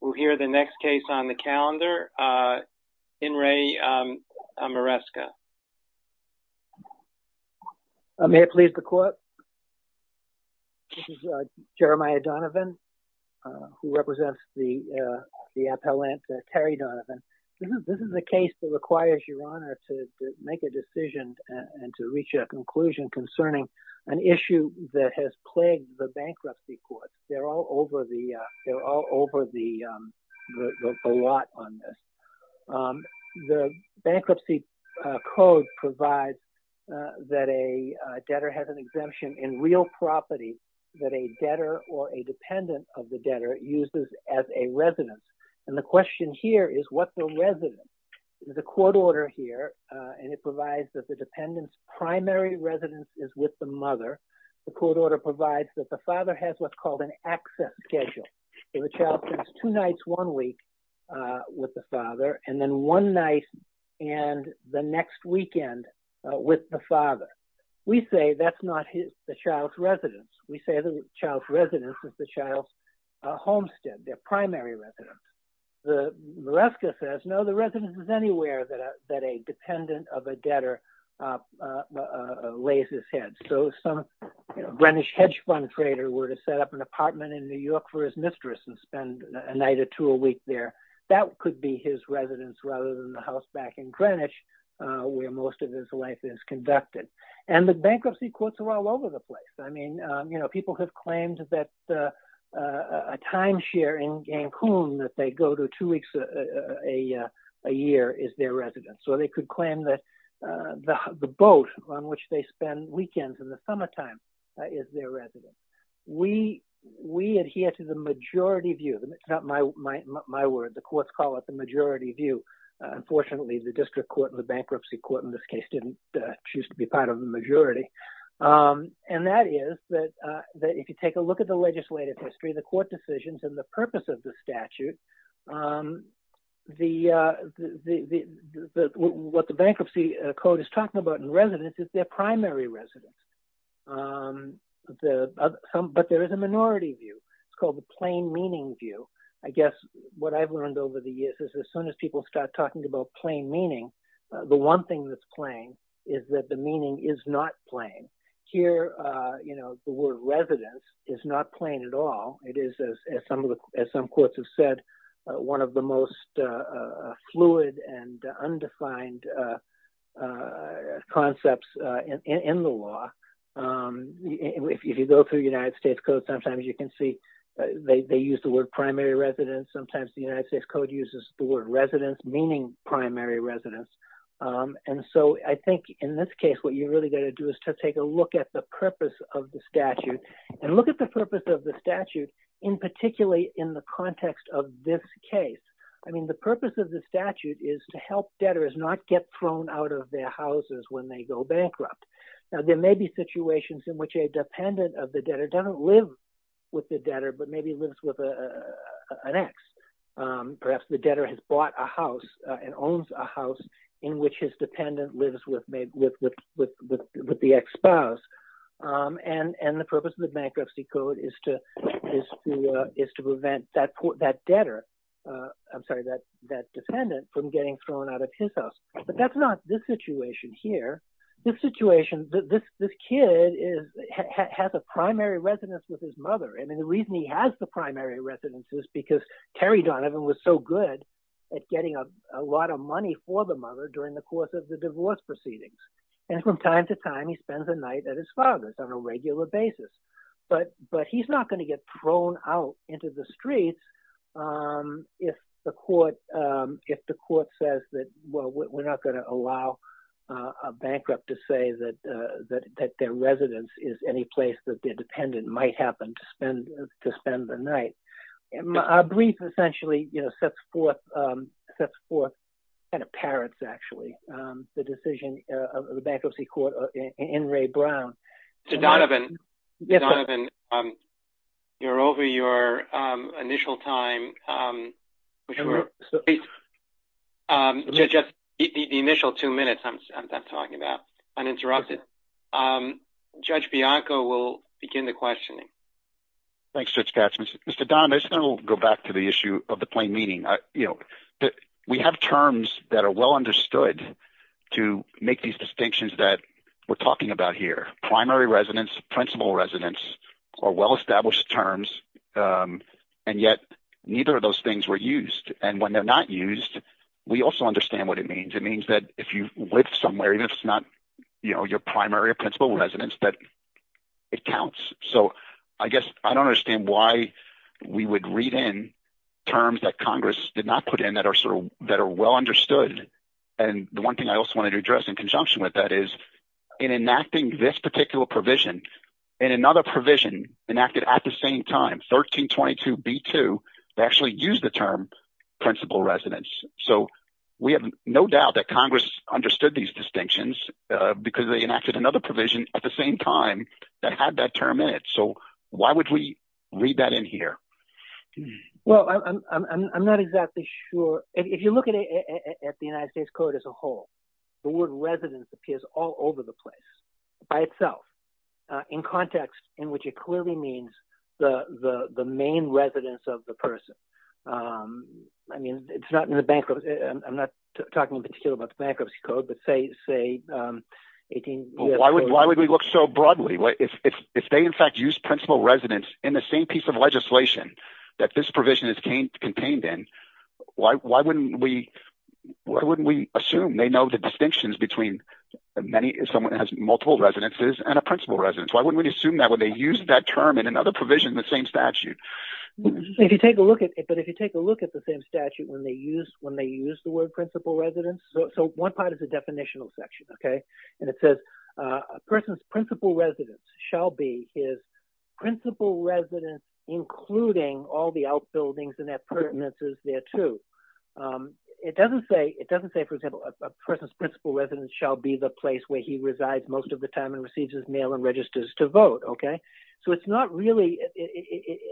We'll hear the next case on the calendar, In re Maresca. May it please the court? This is Jeremiah Donovan, who represents the appellant, Terry Donovan. This is a case that requires your honor to make a decision and to reach a conclusion concerning an issue that has plagued the bankruptcy court. They're all over the lot on this. The bankruptcy code provides that a debtor has an exemption in real property that a debtor or a dependent of the debtor uses as a residence. And the question here is what the residence. There's a court order here, and it provides that the dependent's primary residence is with the mother. The court order provides that the father has what's called an access schedule. So the child spends two nights one week with the father, and then one night and the next weekend with the father. We say that's not the child's residence. We say the child's residence is the child's homestead, their primary residence. Maresca says, no, the residence is anywhere that a dependent of a debtor lays his head. So some Greenwich hedge fund trader were to set up an apartment in New York for his mistress and spend a night or two a week there. That could be his residence rather than the house back in Greenwich where most of his life is conducted. And the bankruptcy courts are all over the place. I mean, you know, people have claimed that a timeshare in Cancun that they go to two weeks a year is their residence. So they could claim that the boat on which they spend weekends in the summertime is their residence. We adhere to the majority view. It's not my word. The courts call it the majority view. Unfortunately, the district court, the bankruptcy court in this case, didn't choose to be part of the majority. And that is that if you take a look at the legislative history, the court decisions and the purpose of the statute, what the bankruptcy code is talking about in residence is their primary residence. But there is a minority view. It's called the plain meaning view. I guess what I've learned over the years is as soon as people start talking about plain meaning, the one thing that's plain is that the meaning is not plain here. You know, the word residence is not plain at all. It is, as some of the as some courts have said, one of the most fluid and undefined concepts in the law. If you go through United States code, sometimes you can see they use the word primary residence. Sometimes the United States code uses the word residence, meaning primary residence. And so I think in this case, what you really got to do is to take a look at the purpose of the statute and look at the purpose of the statute in particularly in the context of this case. I mean, the purpose of the statute is to help debtors not get thrown out of their houses when they go bankrupt. Now, there may be situations in which a dependent of the debtor doesn't live with the debtor, but maybe lives with an ex. Perhaps the debtor has bought a house and owns a house in which his dependent lives with the ex spouse. And the purpose of the bankruptcy code is to prevent that debtor. I'm sorry, that that dependent from getting thrown out of his house. But that's not the situation here. This situation, this kid has a primary residence with his mother. And the reason he has the primary residence is because Terry Donovan was so good at getting a lot of money for the mother during the course of the divorce proceedings. And from time to time, he spends a night at his father's on a regular basis. But he's not going to get thrown out into the streets. If the court if the court says that, well, we're not going to allow a bankrupt to say that that their residence is any place that their dependent might happen to spend to spend the night. Essentially, you know, sets forth sets forth kind of parents. Actually, the decision of the bankruptcy court in Ray Brown to Donovan. You're over your initial time. The initial two minutes I'm talking about uninterrupted. Judge Bianco will begin the questioning. Thanks. Mr. Donovan will go back to the issue of the plain meaning that we have terms that are well understood to make these distinctions that we're talking about here. Primary residence, principal residence are well established terms. And yet neither of those things were used. And when they're not used, we also understand what it means. It means that if you live somewhere, it's not your primary or principal residence that it counts. So I guess I don't understand why we would read in terms that Congress did not put in that are sort of that are well understood. And the one thing I also wanted to address in conjunction with that is in enacting this particular provision and another provision enacted at the same time, 1322 B2 to actually use the term principal residence. So we have no doubt that Congress understood these distinctions because they enacted another provision at the same time that had that term in it. So why would we read that in here? Well, I'm not exactly sure. If you look at the United States court as a whole, the word residence appears all over the place by itself in context in which it clearly means the main residence of the person. I mean, it's not in the bankruptcy. I'm not talking in particular about the bankruptcy code, but say, say, 18. Why would why would we look so broadly if they, in fact, use principal residence in the same piece of legislation that this provision is contained in? Why? Why wouldn't we? Why wouldn't we assume they know the distinctions between many? Someone has multiple residences and a principal residence. Why wouldn't we assume that when they use that term in another provision, the same statute? If you take a look at it, but if you take a look at the same statute when they use when they use the word principal residence. So one part of the definitional section. OK, and it says a person's principal residence shall be his principal residence, including all the outbuildings and their pertinences there, too. It doesn't say it doesn't say, for example, a person's principal residence shall be the place where he resides most of the time and receives his mail and registers to vote. OK, so it's not really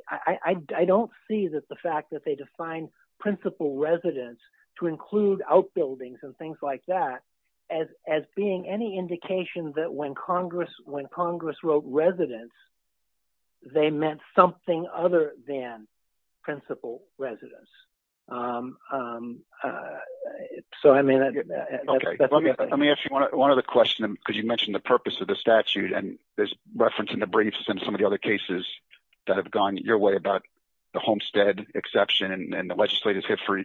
I don't see that the fact that they define principal residence to include outbuildings and things like that as as being any indication that when Congress when Congress wrote residence. They meant something other than principal residence. So, I mean, I mean, if you want to one other question, because you mentioned the purpose of the statute and there's reference in the briefs and some of the other cases that have gone your way about the homestead exception and the legislative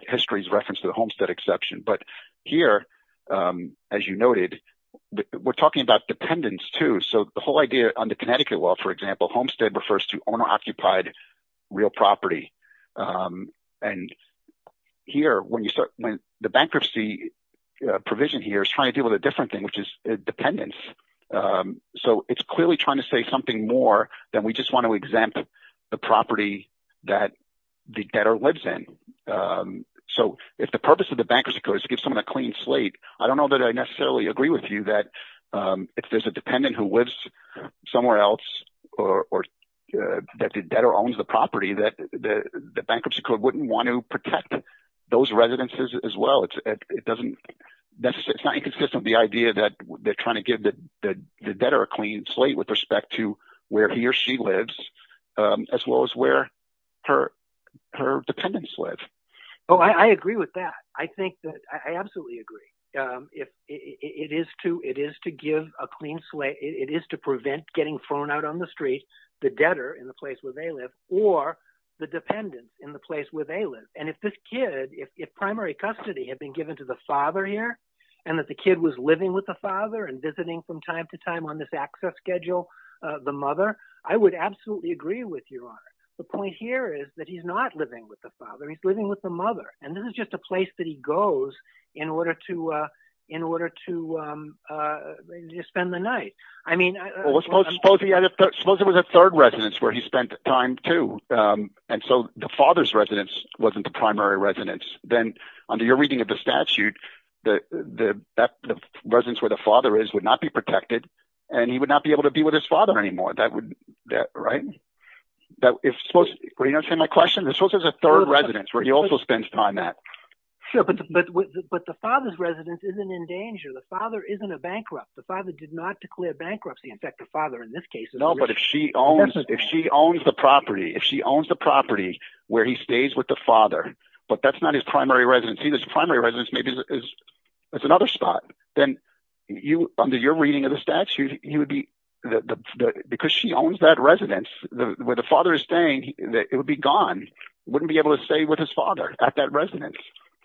history's reference to the homestead exception. But here, as you noted, we're talking about dependence, too. So the whole idea on the Connecticut law, for example, homestead refers to owner-occupied real property. And here when you start when the bankruptcy provision here is trying to deal with a different thing, which is dependence. So it's clearly trying to say something more than we just want to exempt the property that the debtor lives in. So if the purpose of the bankruptcy code is to give someone a clean slate, I don't know that I necessarily agree with you that if there's a dependent who lives somewhere else or that the debtor owns the property that the bankruptcy code wouldn't want to protect those residences as well. It doesn't – it's not inconsistent with the idea that they're trying to give the debtor a clean slate with respect to where he or she lives as well as where her dependents live. Oh, I agree with that. I think that – I absolutely agree. It is to give a clean slate – it is to prevent getting thrown out on the street the debtor in the place where they live or the dependent in the place where they live. And if this kid – if primary custody had been given to the father here and that the kid was living with the father and visiting from time to time on this access schedule, the mother, I would absolutely agree with you on it. The point here is that he's not living with the father. He's living with the mother, and this is just a place that he goes in order to spend the night. Well, suppose he had a – suppose there was a third residence where he spent time too, and so the father's residence wasn't the primary residence. Then under your reading of the statute, the residence where the father is would not be protected, and he would not be able to be with his father anymore. That would – right? If – well, you understand my question? There's supposed to be a third residence where he also spends time at. But the father's residence isn't in danger. The father isn't a bankrupt. The father did not declare bankruptcy. In fact, the father in this case is… No, but if she owns the property, if she owns the property where he stays with the father, but that's not his primary residence. If he doesn't see his primary residence maybe as another spot, then under your reading of the statute, he would be – because she owns that residence, where the father is staying, it would be gone. He wouldn't be able to stay with his father at that residence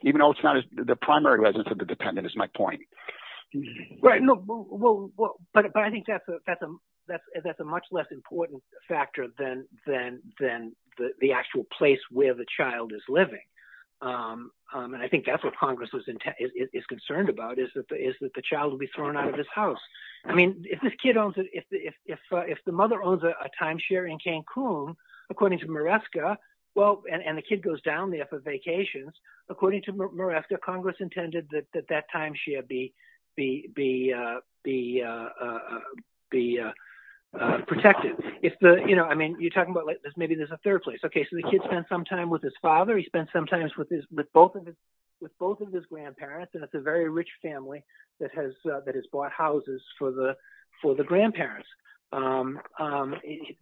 even though it's not the primary residence of the dependent is my point. But I think that's a much less important factor than the actual place where the child is living. And I think that's what Congress is concerned about is that the child will be thrown out of his house. I mean if this kid owns – if the mother owns a timeshare in Cancun, according to Maresca, and the kid goes down there for vacations, according to Maresca, Congress intended that that timeshare be protected. I mean you're talking about like maybe there's a third place. Okay, so the kid spends some time with his father. He spends some time with both of his grandparents, and it's a very rich family that has bought houses for the grandparents.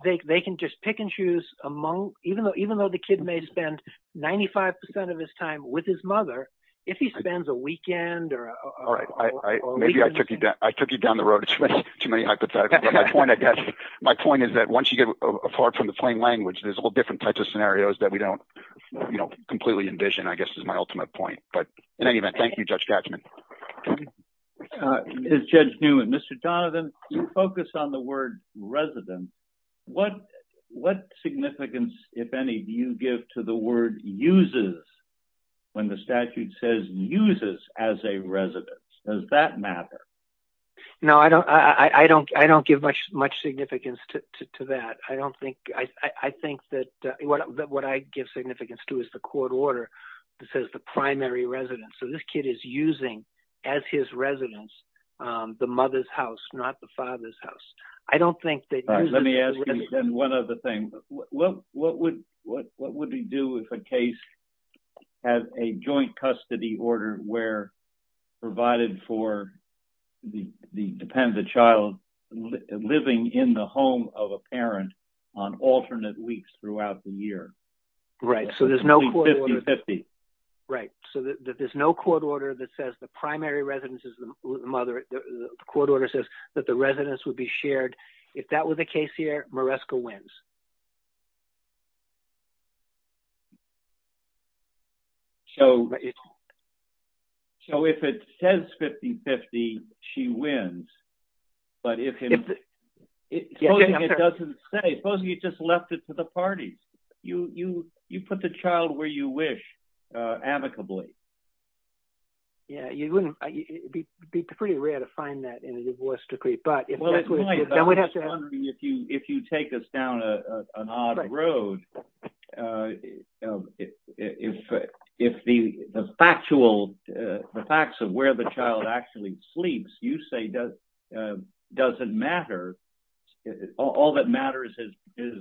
They can just pick and choose among – even though the kid may spend 95% of his time with his mother, if he spends a weekend or a weekend… My point is that once you get apart from the plain language, there's all different types of scenarios that we don't completely envision I guess is my ultimate point. But in any event, thank you, Judge Tatchman. As Judge Newman, Mr. Donovan, you focus on the word residence. What significance, if any, do you give to the word uses when the statute says uses as a residence? Does that matter? No, I don't give much significance to that. I think that what I give significance to is the court order that says the primary residence. So this kid is using as his residence the mother's house, not the father's house. Let me ask you then one other thing. What would we do if a case had a joint custody order where provided for the dependent child living in the home of a parent on alternate weeks throughout the year? Right, so there's no court order that says the primary residence is the mother. The court order says that the residence would be shared. If that were the case here, Maresca wins. So if it says 50-50, she wins. But if it doesn't say, suppose you just left it to the parties. You put the child where you wish, amicably. Yeah, you wouldn't be pretty rare to find that in a divorce decree. But if we don't have to. I'm wondering if you take us down an odd road. If the factual – the facts of where the child actually sleeps, you say doesn't matter. All that matters is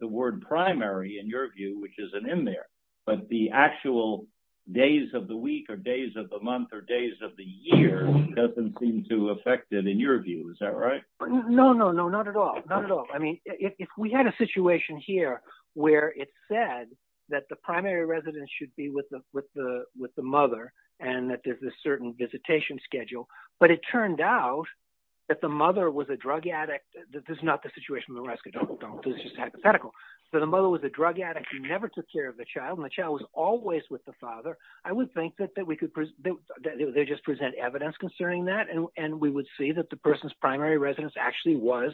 the word primary in your view, which isn't in there. But the actual days of the week or days of the month or days of the year doesn't seem to affect it in your view. Is that right? No, no, no, not at all. Not at all. I mean if we had a situation here where it said that the primary residence should be with the mother and that there's a certain visitation schedule, but it turned out that the mother was a drug addict. This is not the situation with Maresca. This is just hypothetical. So the mother was a drug addict. She never took care of the child, and the child was always with the father. I would think that they just present evidence concerning that, and we would see that the person's primary residence actually was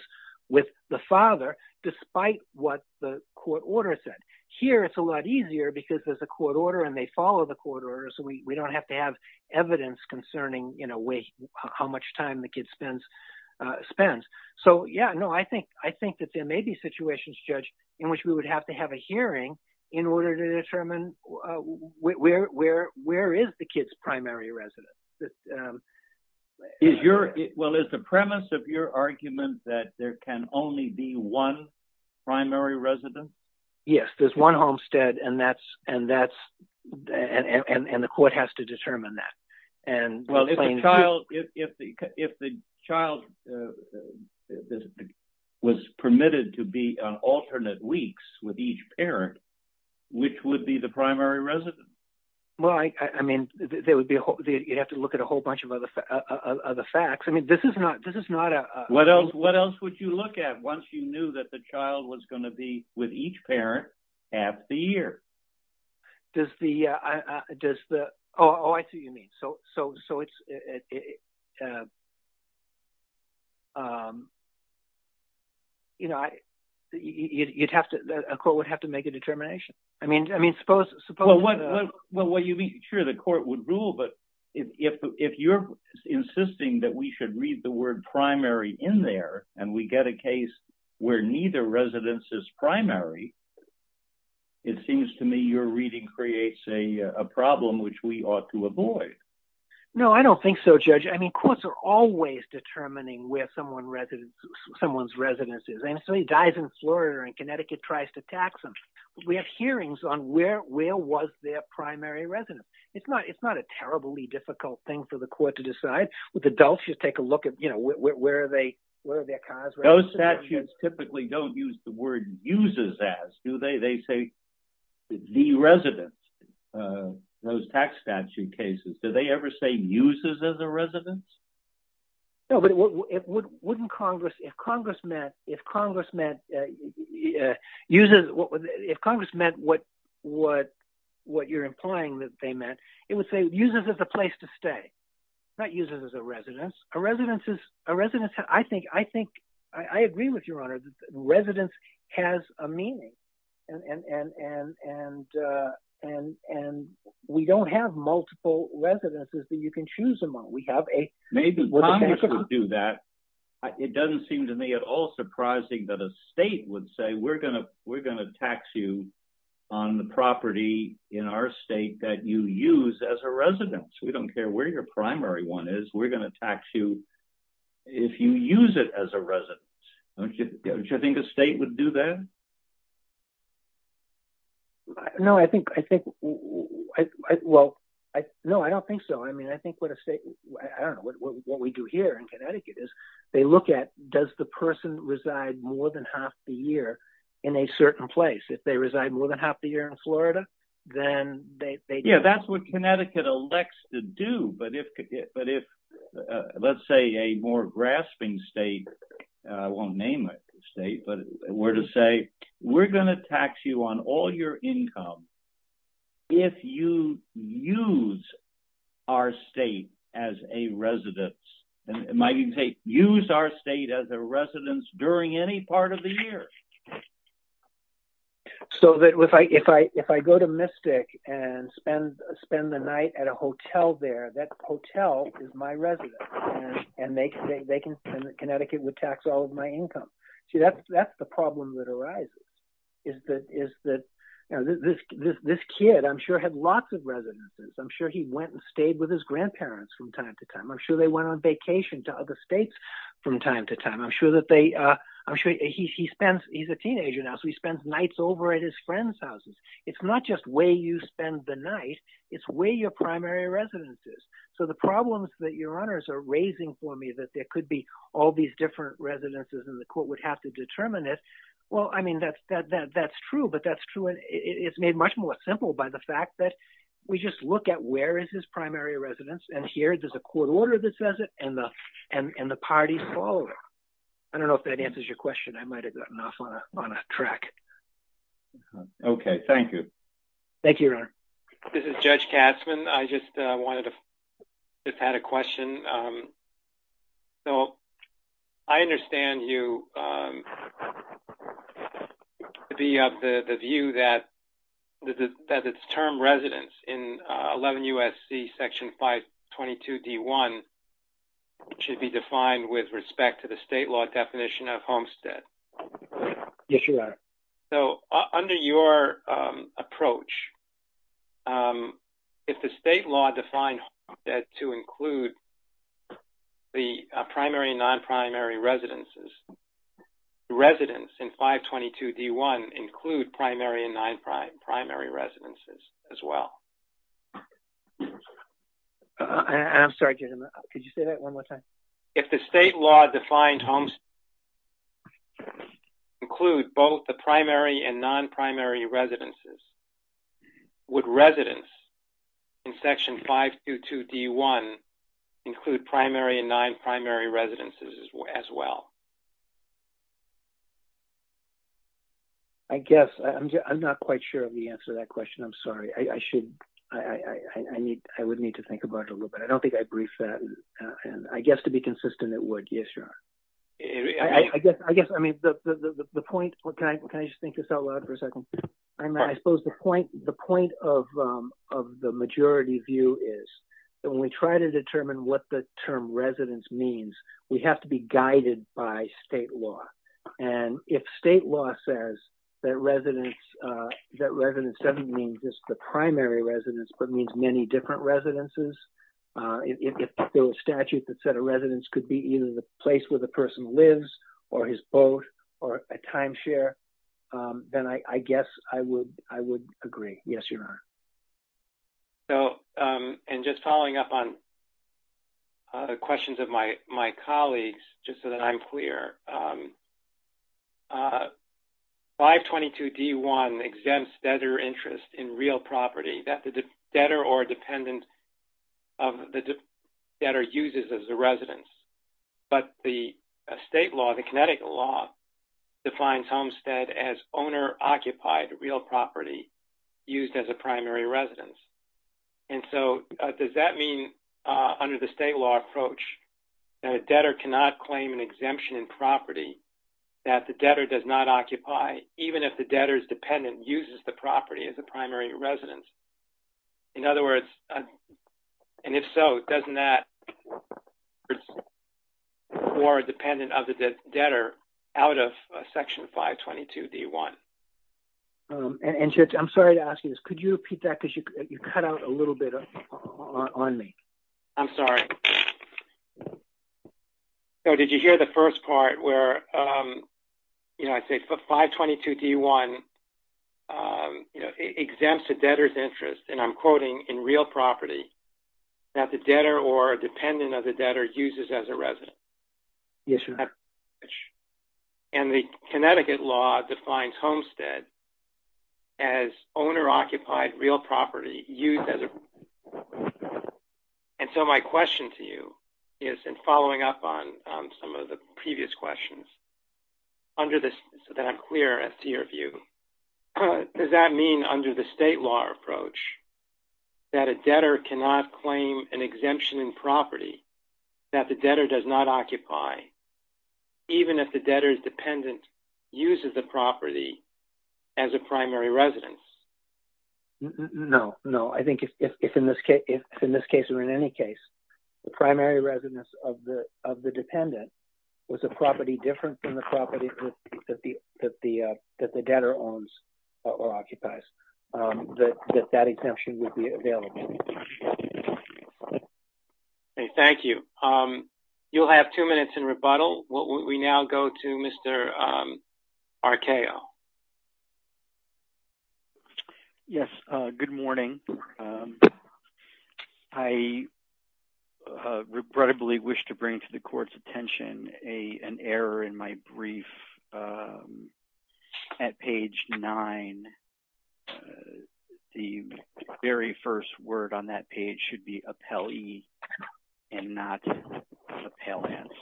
with the father despite what the court order said. Here it's a lot easier because there's a court order and they follow the court order, so we don't have to have evidence concerning how much time the kid spends. So yeah, no, I think that there may be situations, Judge, in which we would have to have a hearing in order to determine where is the kid's primary residence. Well, is the premise of your argument that there can only be one primary residence? There's one homestead, and the court has to determine that. Well, if the child was permitted to be on alternate weeks with each parent, which would be the primary residence? Well, I mean, you'd have to look at a whole bunch of other facts. I mean, this is not a… What else would you look at once you knew that the child was going to be with each parent half the year? Does the – oh, I see what you mean. So it's – you'd have to – a court would have to make a determination. I mean, suppose… Sure, the court would rule, but if you're insisting that we should read the word primary in there and we get a case where neither residence is primary, it seems to me your reading creates a problem which we ought to avoid. No, I don't think so, Judge. I mean, courts are always determining where someone's residence is, and so he dies in Florida and Connecticut tries to tax him. We have hearings on where was their primary residence. It's not a terribly difficult thing for the court to decide. With adults, you take a look at where are their cars… Those statutes typically don't use the word uses as, do they? They say the residence. Those tax statute cases, do they ever say uses as a residence? No, but wouldn't Congress – if Congress meant what you're implying that they meant, it would say uses as a place to stay, not uses as a residence. A residence is – I think – I agree with your honor that residence has a meaning, and we don't have multiple residences that you can choose among. We have a… If you use it as a residence, don't you think a state would do that? No, I think – well, no, I don't think so. I mean, I think what a state – I don't know, what we do here in Connecticut is they look at does the person reside more than half the year in a certain place. If they reside more than half the year in Florida, then they… Yeah, that's what Connecticut elects to do, but if, let's say, a more grasping state – I won't name a state – but were to say we're going to tax you on all your income if you use our state as a residence. It might even say use our state as a residence during any part of the year. So, if I go to Mystic and spend the night at a hotel there, that hotel is my residence, and Connecticut would tax all of my income. See, that's the problem that arises, is that this kid, I'm sure, had lots of residences. I'm sure he went and stayed with his grandparents from time to time. I'm sure they went on vacation to other states from time to time. I'm sure that they – I'm sure he spends – he's a teenager now, so he spends nights over at his friends' houses. It's not just where you spend the night. It's where your primary residence is. So, the problems that your honors are raising for me, that there could be all these different residences and the court would have to determine it, well, I mean, that's true, but that's true, and it's made much more simple by the fact that we just look at where is his primary residence, and here there's a court order that says it, and the parties follow it. I don't know if that answers your question. I might have gotten off on a track. Okay, thank you. This is Judge Katzmann. I just wanted to – just had a question. So, I understand you – the view that its term residence in 11 U.S.C. Section 522 D.1 should be defined with respect to the state law definition of homestead. Yes, Your Honor. So, under your approach, if the state law defined homestead to include the primary and non-primary residences, the residence in 522 D.1 include primary and non-primary residences as well. I'm sorry, Judge, could you say that one more time? If the state law defined homestead to include both the primary and non-primary residences, would residence in Section 522 D.1 include primary and non-primary residences as well? I guess. I'm not quite sure of the answer to that question. I'm sorry. I would need to think about it a little bit. I don't think I briefed that. I guess to be consistent, it would. Yes, Your Honor. I guess. I mean, the point – can I just think this out loud for a second? I suppose the point of the majority view is that when we try to determine what the term residence means, we have to be guided by state law. And if state law says that residence doesn't mean just the primary residence but means many different residences, if the statute that said a residence could be either the place where the person lives or his boat or a timeshare, then I guess I would agree. Yes, Your Honor. So, and just following up on questions of my colleagues, just so that I'm clear, 522 D.1 exempts debtor interest in real property that the debtor or dependent of the debtor uses as a residence. But the state law, the Connecticut law, defines homestead as owner-occupied real property used as a primary residence. And so does that mean under the state law approach that a debtor cannot claim an exemption in property that the debtor does not occupy even if the debtor's dependent uses the property as a primary residence? In other words – and if so, doesn't that – or dependent of the debtor out of Section 522 D.1? And Judge, I'm sorry to ask you this. Could you repeat that? Because you cut out a little bit on me. I'm sorry. So did you hear the first part where, you know, I say 522 D.1 exempts a debtor's interest, and I'm quoting, in real property that the debtor or dependent of the debtor uses as a residence? Yes, Your Honor. And the Connecticut law defines homestead as owner-occupied real property used as a primary residence. And so my question to you is, in following up on some of the previous questions, under the – so that I'm clear as to your view, does that mean under the state law approach that a debtor cannot claim an exemption in property that the debtor does not occupy even if the debtor's dependent uses the property as a primary residence? No, no. I think if in this case or in any case, the primary residence of the dependent was a property different from the property that the debtor owns or occupies, that that exemption would be available. Thank you. You'll have two minutes in rebuttal. We now go to Mr. Arcao. Yes, good morning. I regrettably wish to bring to the Court's attention an error in my brief at page 9. The very first word on that page should be appellee and not appellants.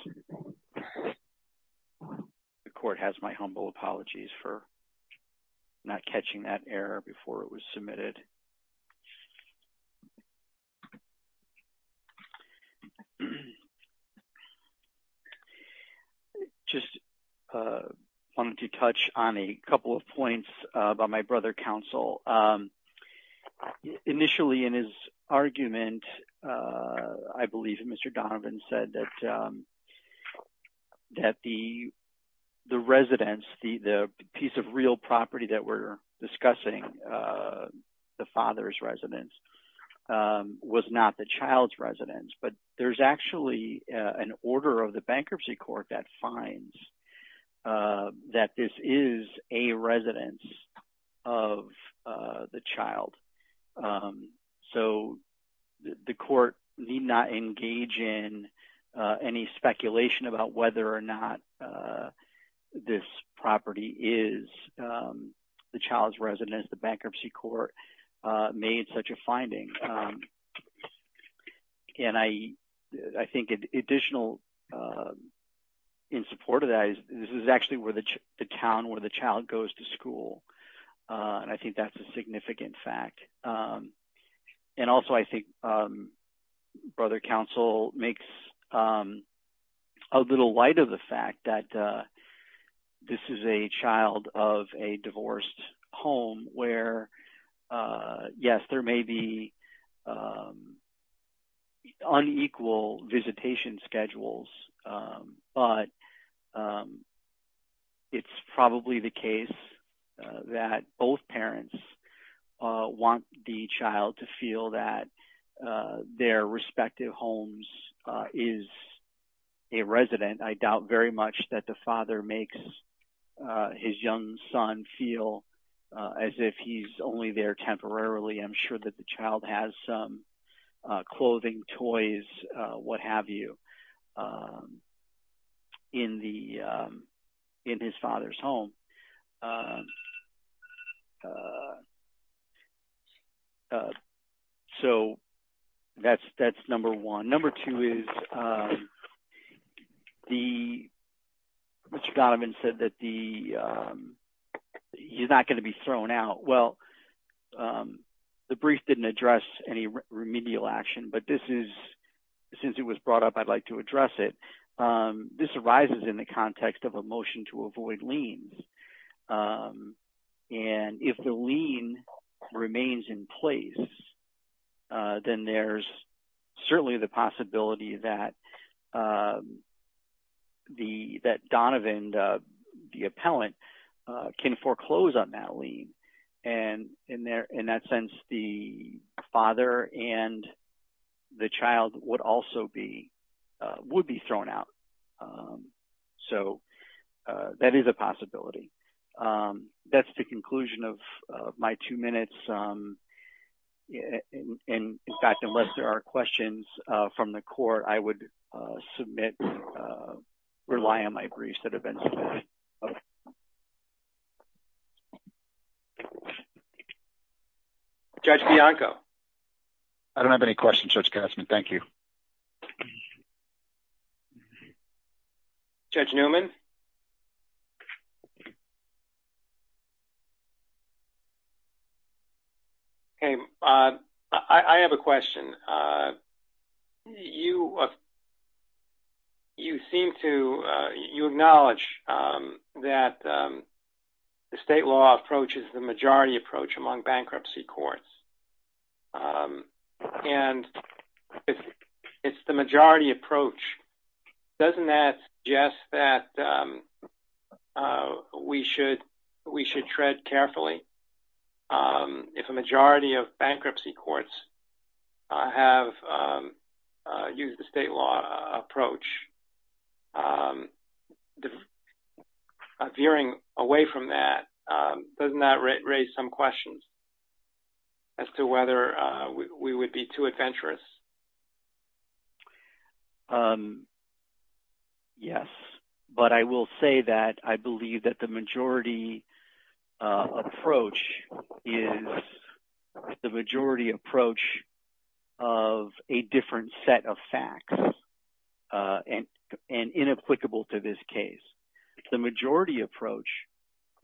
The Court has my humble apologies for not catching that error before it was submitted. I just wanted to touch on a couple of points about my brother counsel. Initially in his argument, I believe Mr. Donovan said that the residence, the piece of real property that we're discussing, the father's residence, was not the child's residence. But there's actually an order of the Bankruptcy Court that finds that this is a residence of the child. So the Court need not engage in any speculation about whether or not this property is the child's residence. The Bankruptcy Court made such a finding, and I think additional in support of that is this is actually the town where the child goes to school, and I think that's a significant fact. And also I think brother counsel makes a little light of the fact that this is a child of a divorced home where, yes, there may be unequal visitation schedules, but it's probably the case that both parents want the child to feel that their respective homes is a resident. I doubt very much that the father makes his young son feel as if he's only there temporarily. I'm sure that the child has some clothing, toys, what have you, in his father's home. So that's number one. Number two is Mr. Donovan said that he's not going to be thrown out. Well, the brief didn't address any remedial action, but since it was brought up, I'd like to address it. This arises in the context of a motion to avoid liens, and if the lien remains in place, then there's certainly the possibility that Donovan, the appellant, can foreclose on that lien. In that sense, the father and the child would also be thrown out. So that is a possibility. That's the conclusion of my two minutes. In fact, unless there are questions from the court, I would submit, rely on my briefs that have been submitted. Judge Bianco? I don't have any questions, Judge Kessler. Thank you. Judge Newman? Okay. I have a question. You seem to acknowledge that the state law approach is the majority approach among bankruptcy courts, and it's the majority approach. Doesn't that suggest that we should tread carefully if a majority of bankruptcy courts have used the state law approach? Veering away from that, doesn't that raise some questions as to whether we would be too adventurous? Yes. But I will say that I believe that the majority approach is the majority approach of a different set of facts and inapplicable to this case. The majority approach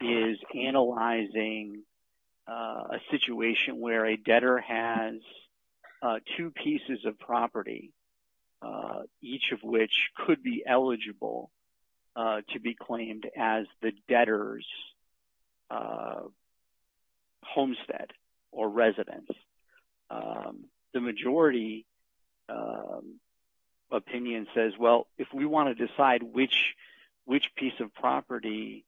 is analyzing a situation where a debtor has two pieces of property, each of which could be eligible to be claimed as the debtor's homestead or residence. The majority opinion says, well, if we want to decide which piece of property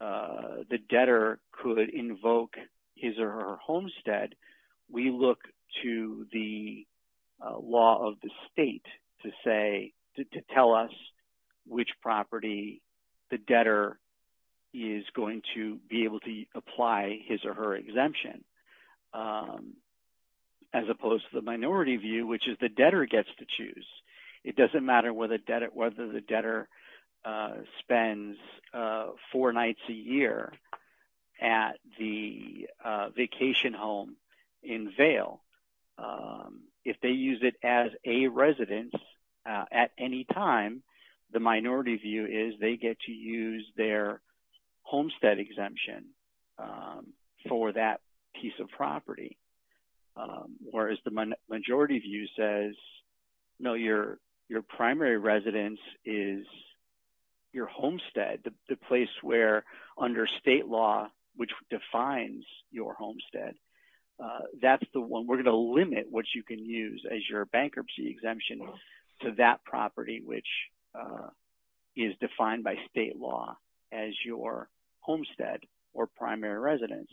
the debtor could invoke his or her homestead, we look to the law of the state to tell us which property the debtor is going to be able to apply his or her exemption. As opposed to the minority view, which is the debtor gets to choose. It doesn't matter whether the debtor spends four nights a year at the vacation home in Vail. If they use it as a residence at any time, the minority view is they get to use their homestead exemption for that piece of property. Whereas the majority view says, no, your primary residence is your homestead, the place where under state law, which defines your homestead, that's the one we're going to limit what you can use as your bankruptcy exemption to that property, which is defined by state law as your homestead or primary residence.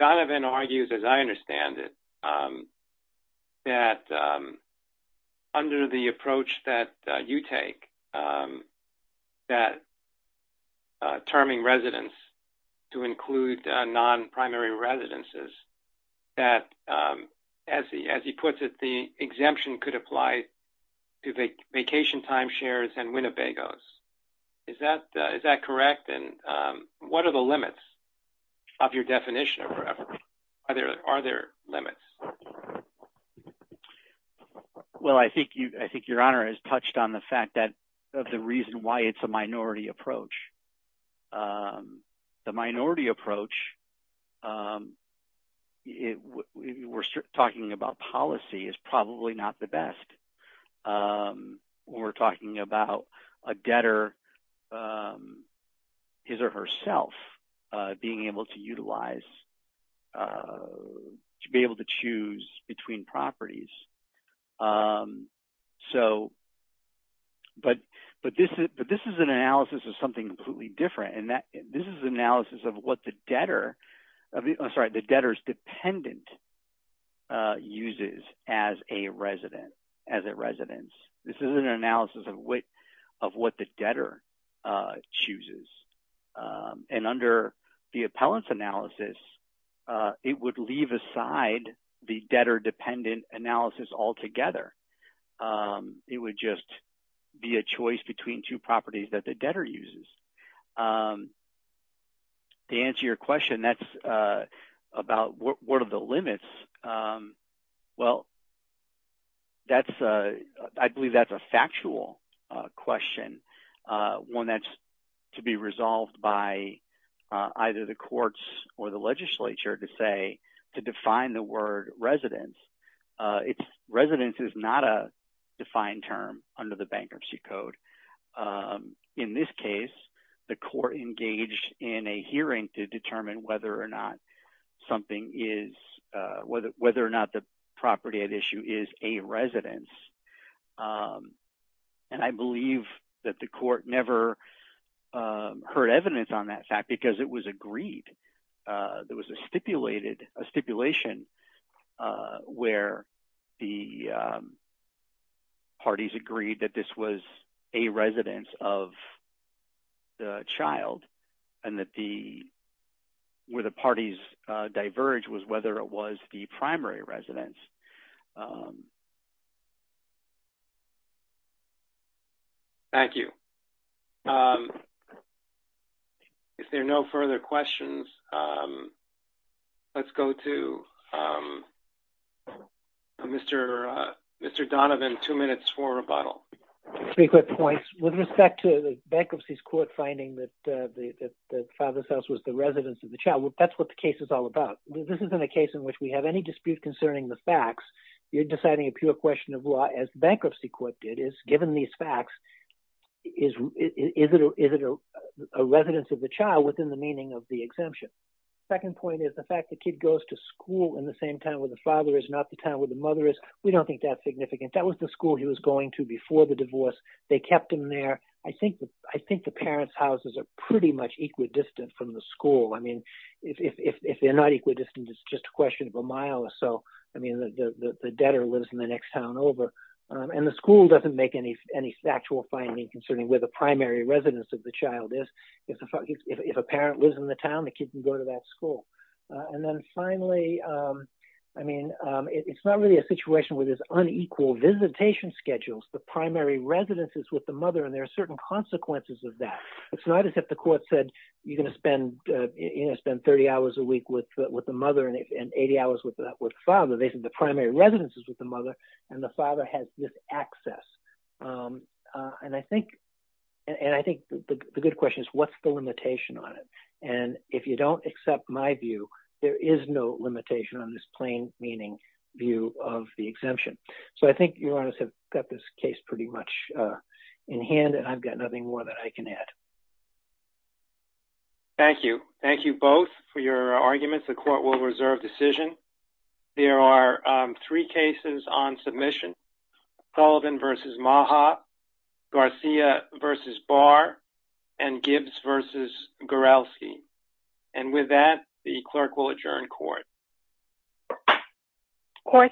Donovan argues, as I understand it, that under the approach that you take, that terming residence to include non-primary residences, that as he puts it, the exemption could apply to vacation time shares and Winnebago's. Is that correct? And what are the limits of your definition? Are there limits? Well, I think your honor has touched on the fact that the reason why it's a minority approach. The minority approach, we're talking about policy, is probably not the best. We're talking about a debtor, his or herself, being able to utilize – to be able to choose between properties. So – but this is an analysis of something completely different, and this is an analysis of what the debtor – I'm sorry, the debtor's dependent uses as a resident, as a residence. This isn't an analysis of what the debtor chooses. And under the appellant's analysis, it would leave aside the debtor-dependent analysis altogether. It would just be a choice between two properties that the debtor uses. To answer your question, that's about what are the limits. Well, that's – I believe that's a factual question, one that's to be resolved by either the courts or the legislature to say – to define the word residence. Residence is not a defined term under the Bankruptcy Code. In this case, the court engaged in a hearing to determine whether or not something is – whether or not the property at issue is a residence. And I believe that the court never heard evidence on that fact because it was agreed. There was a stipulation where the parties agreed that this was a residence of the child and that the – where the parties diverged was whether it was the primary residence. Thank you. If there are no further questions, let's go to Mr. Donovan, two minutes for rebuttal. Three quick points. With respect to the bankruptcy's court finding that the father's house was the residence of the child, that's what the case is all about. This isn't a case in which we have any dispute concerning the facts. You're deciding a pure question of law, as the bankruptcy court did, is given these facts, is it a residence of the child within the meaning of the exemption? Second point is the fact the kid goes to school in the same town where the father is, not the town where the mother is. We don't think that's significant. That was the school he was going to before the divorce. They kept him there. I think the parents' houses are pretty much equidistant from the school. I mean, if they're not equidistant, it's just a question of a mile or so. I mean, the debtor lives in the next town over. And the school doesn't make any factual findings concerning where the primary residence of the child is. If a parent lives in the town, the kid can go to that school. And then finally, I mean, it's not really a situation where there's unequal visitation schedules. The primary residence is with the mother, and there are certain consequences of that. It's not as if the court said you're going to spend 30 hours a week with the mother and 80 hours with the father. They said the primary residence is with the mother, and the father has this access. And I think the good question is what's the limitation on it? And if you don't accept my view, there is no limitation on this plain meaning view of the exemption. So I think you all have got this case pretty much in hand, and I've got nothing more that I can add. Thank you. Thank you both for your arguments. The court will reserve decision. There are three cases on submission, Sullivan v. Maha, Garcia v. Barr, and Gibbs v. Gorelsky. And with that, the clerk will adjourn court. Court is adjourned.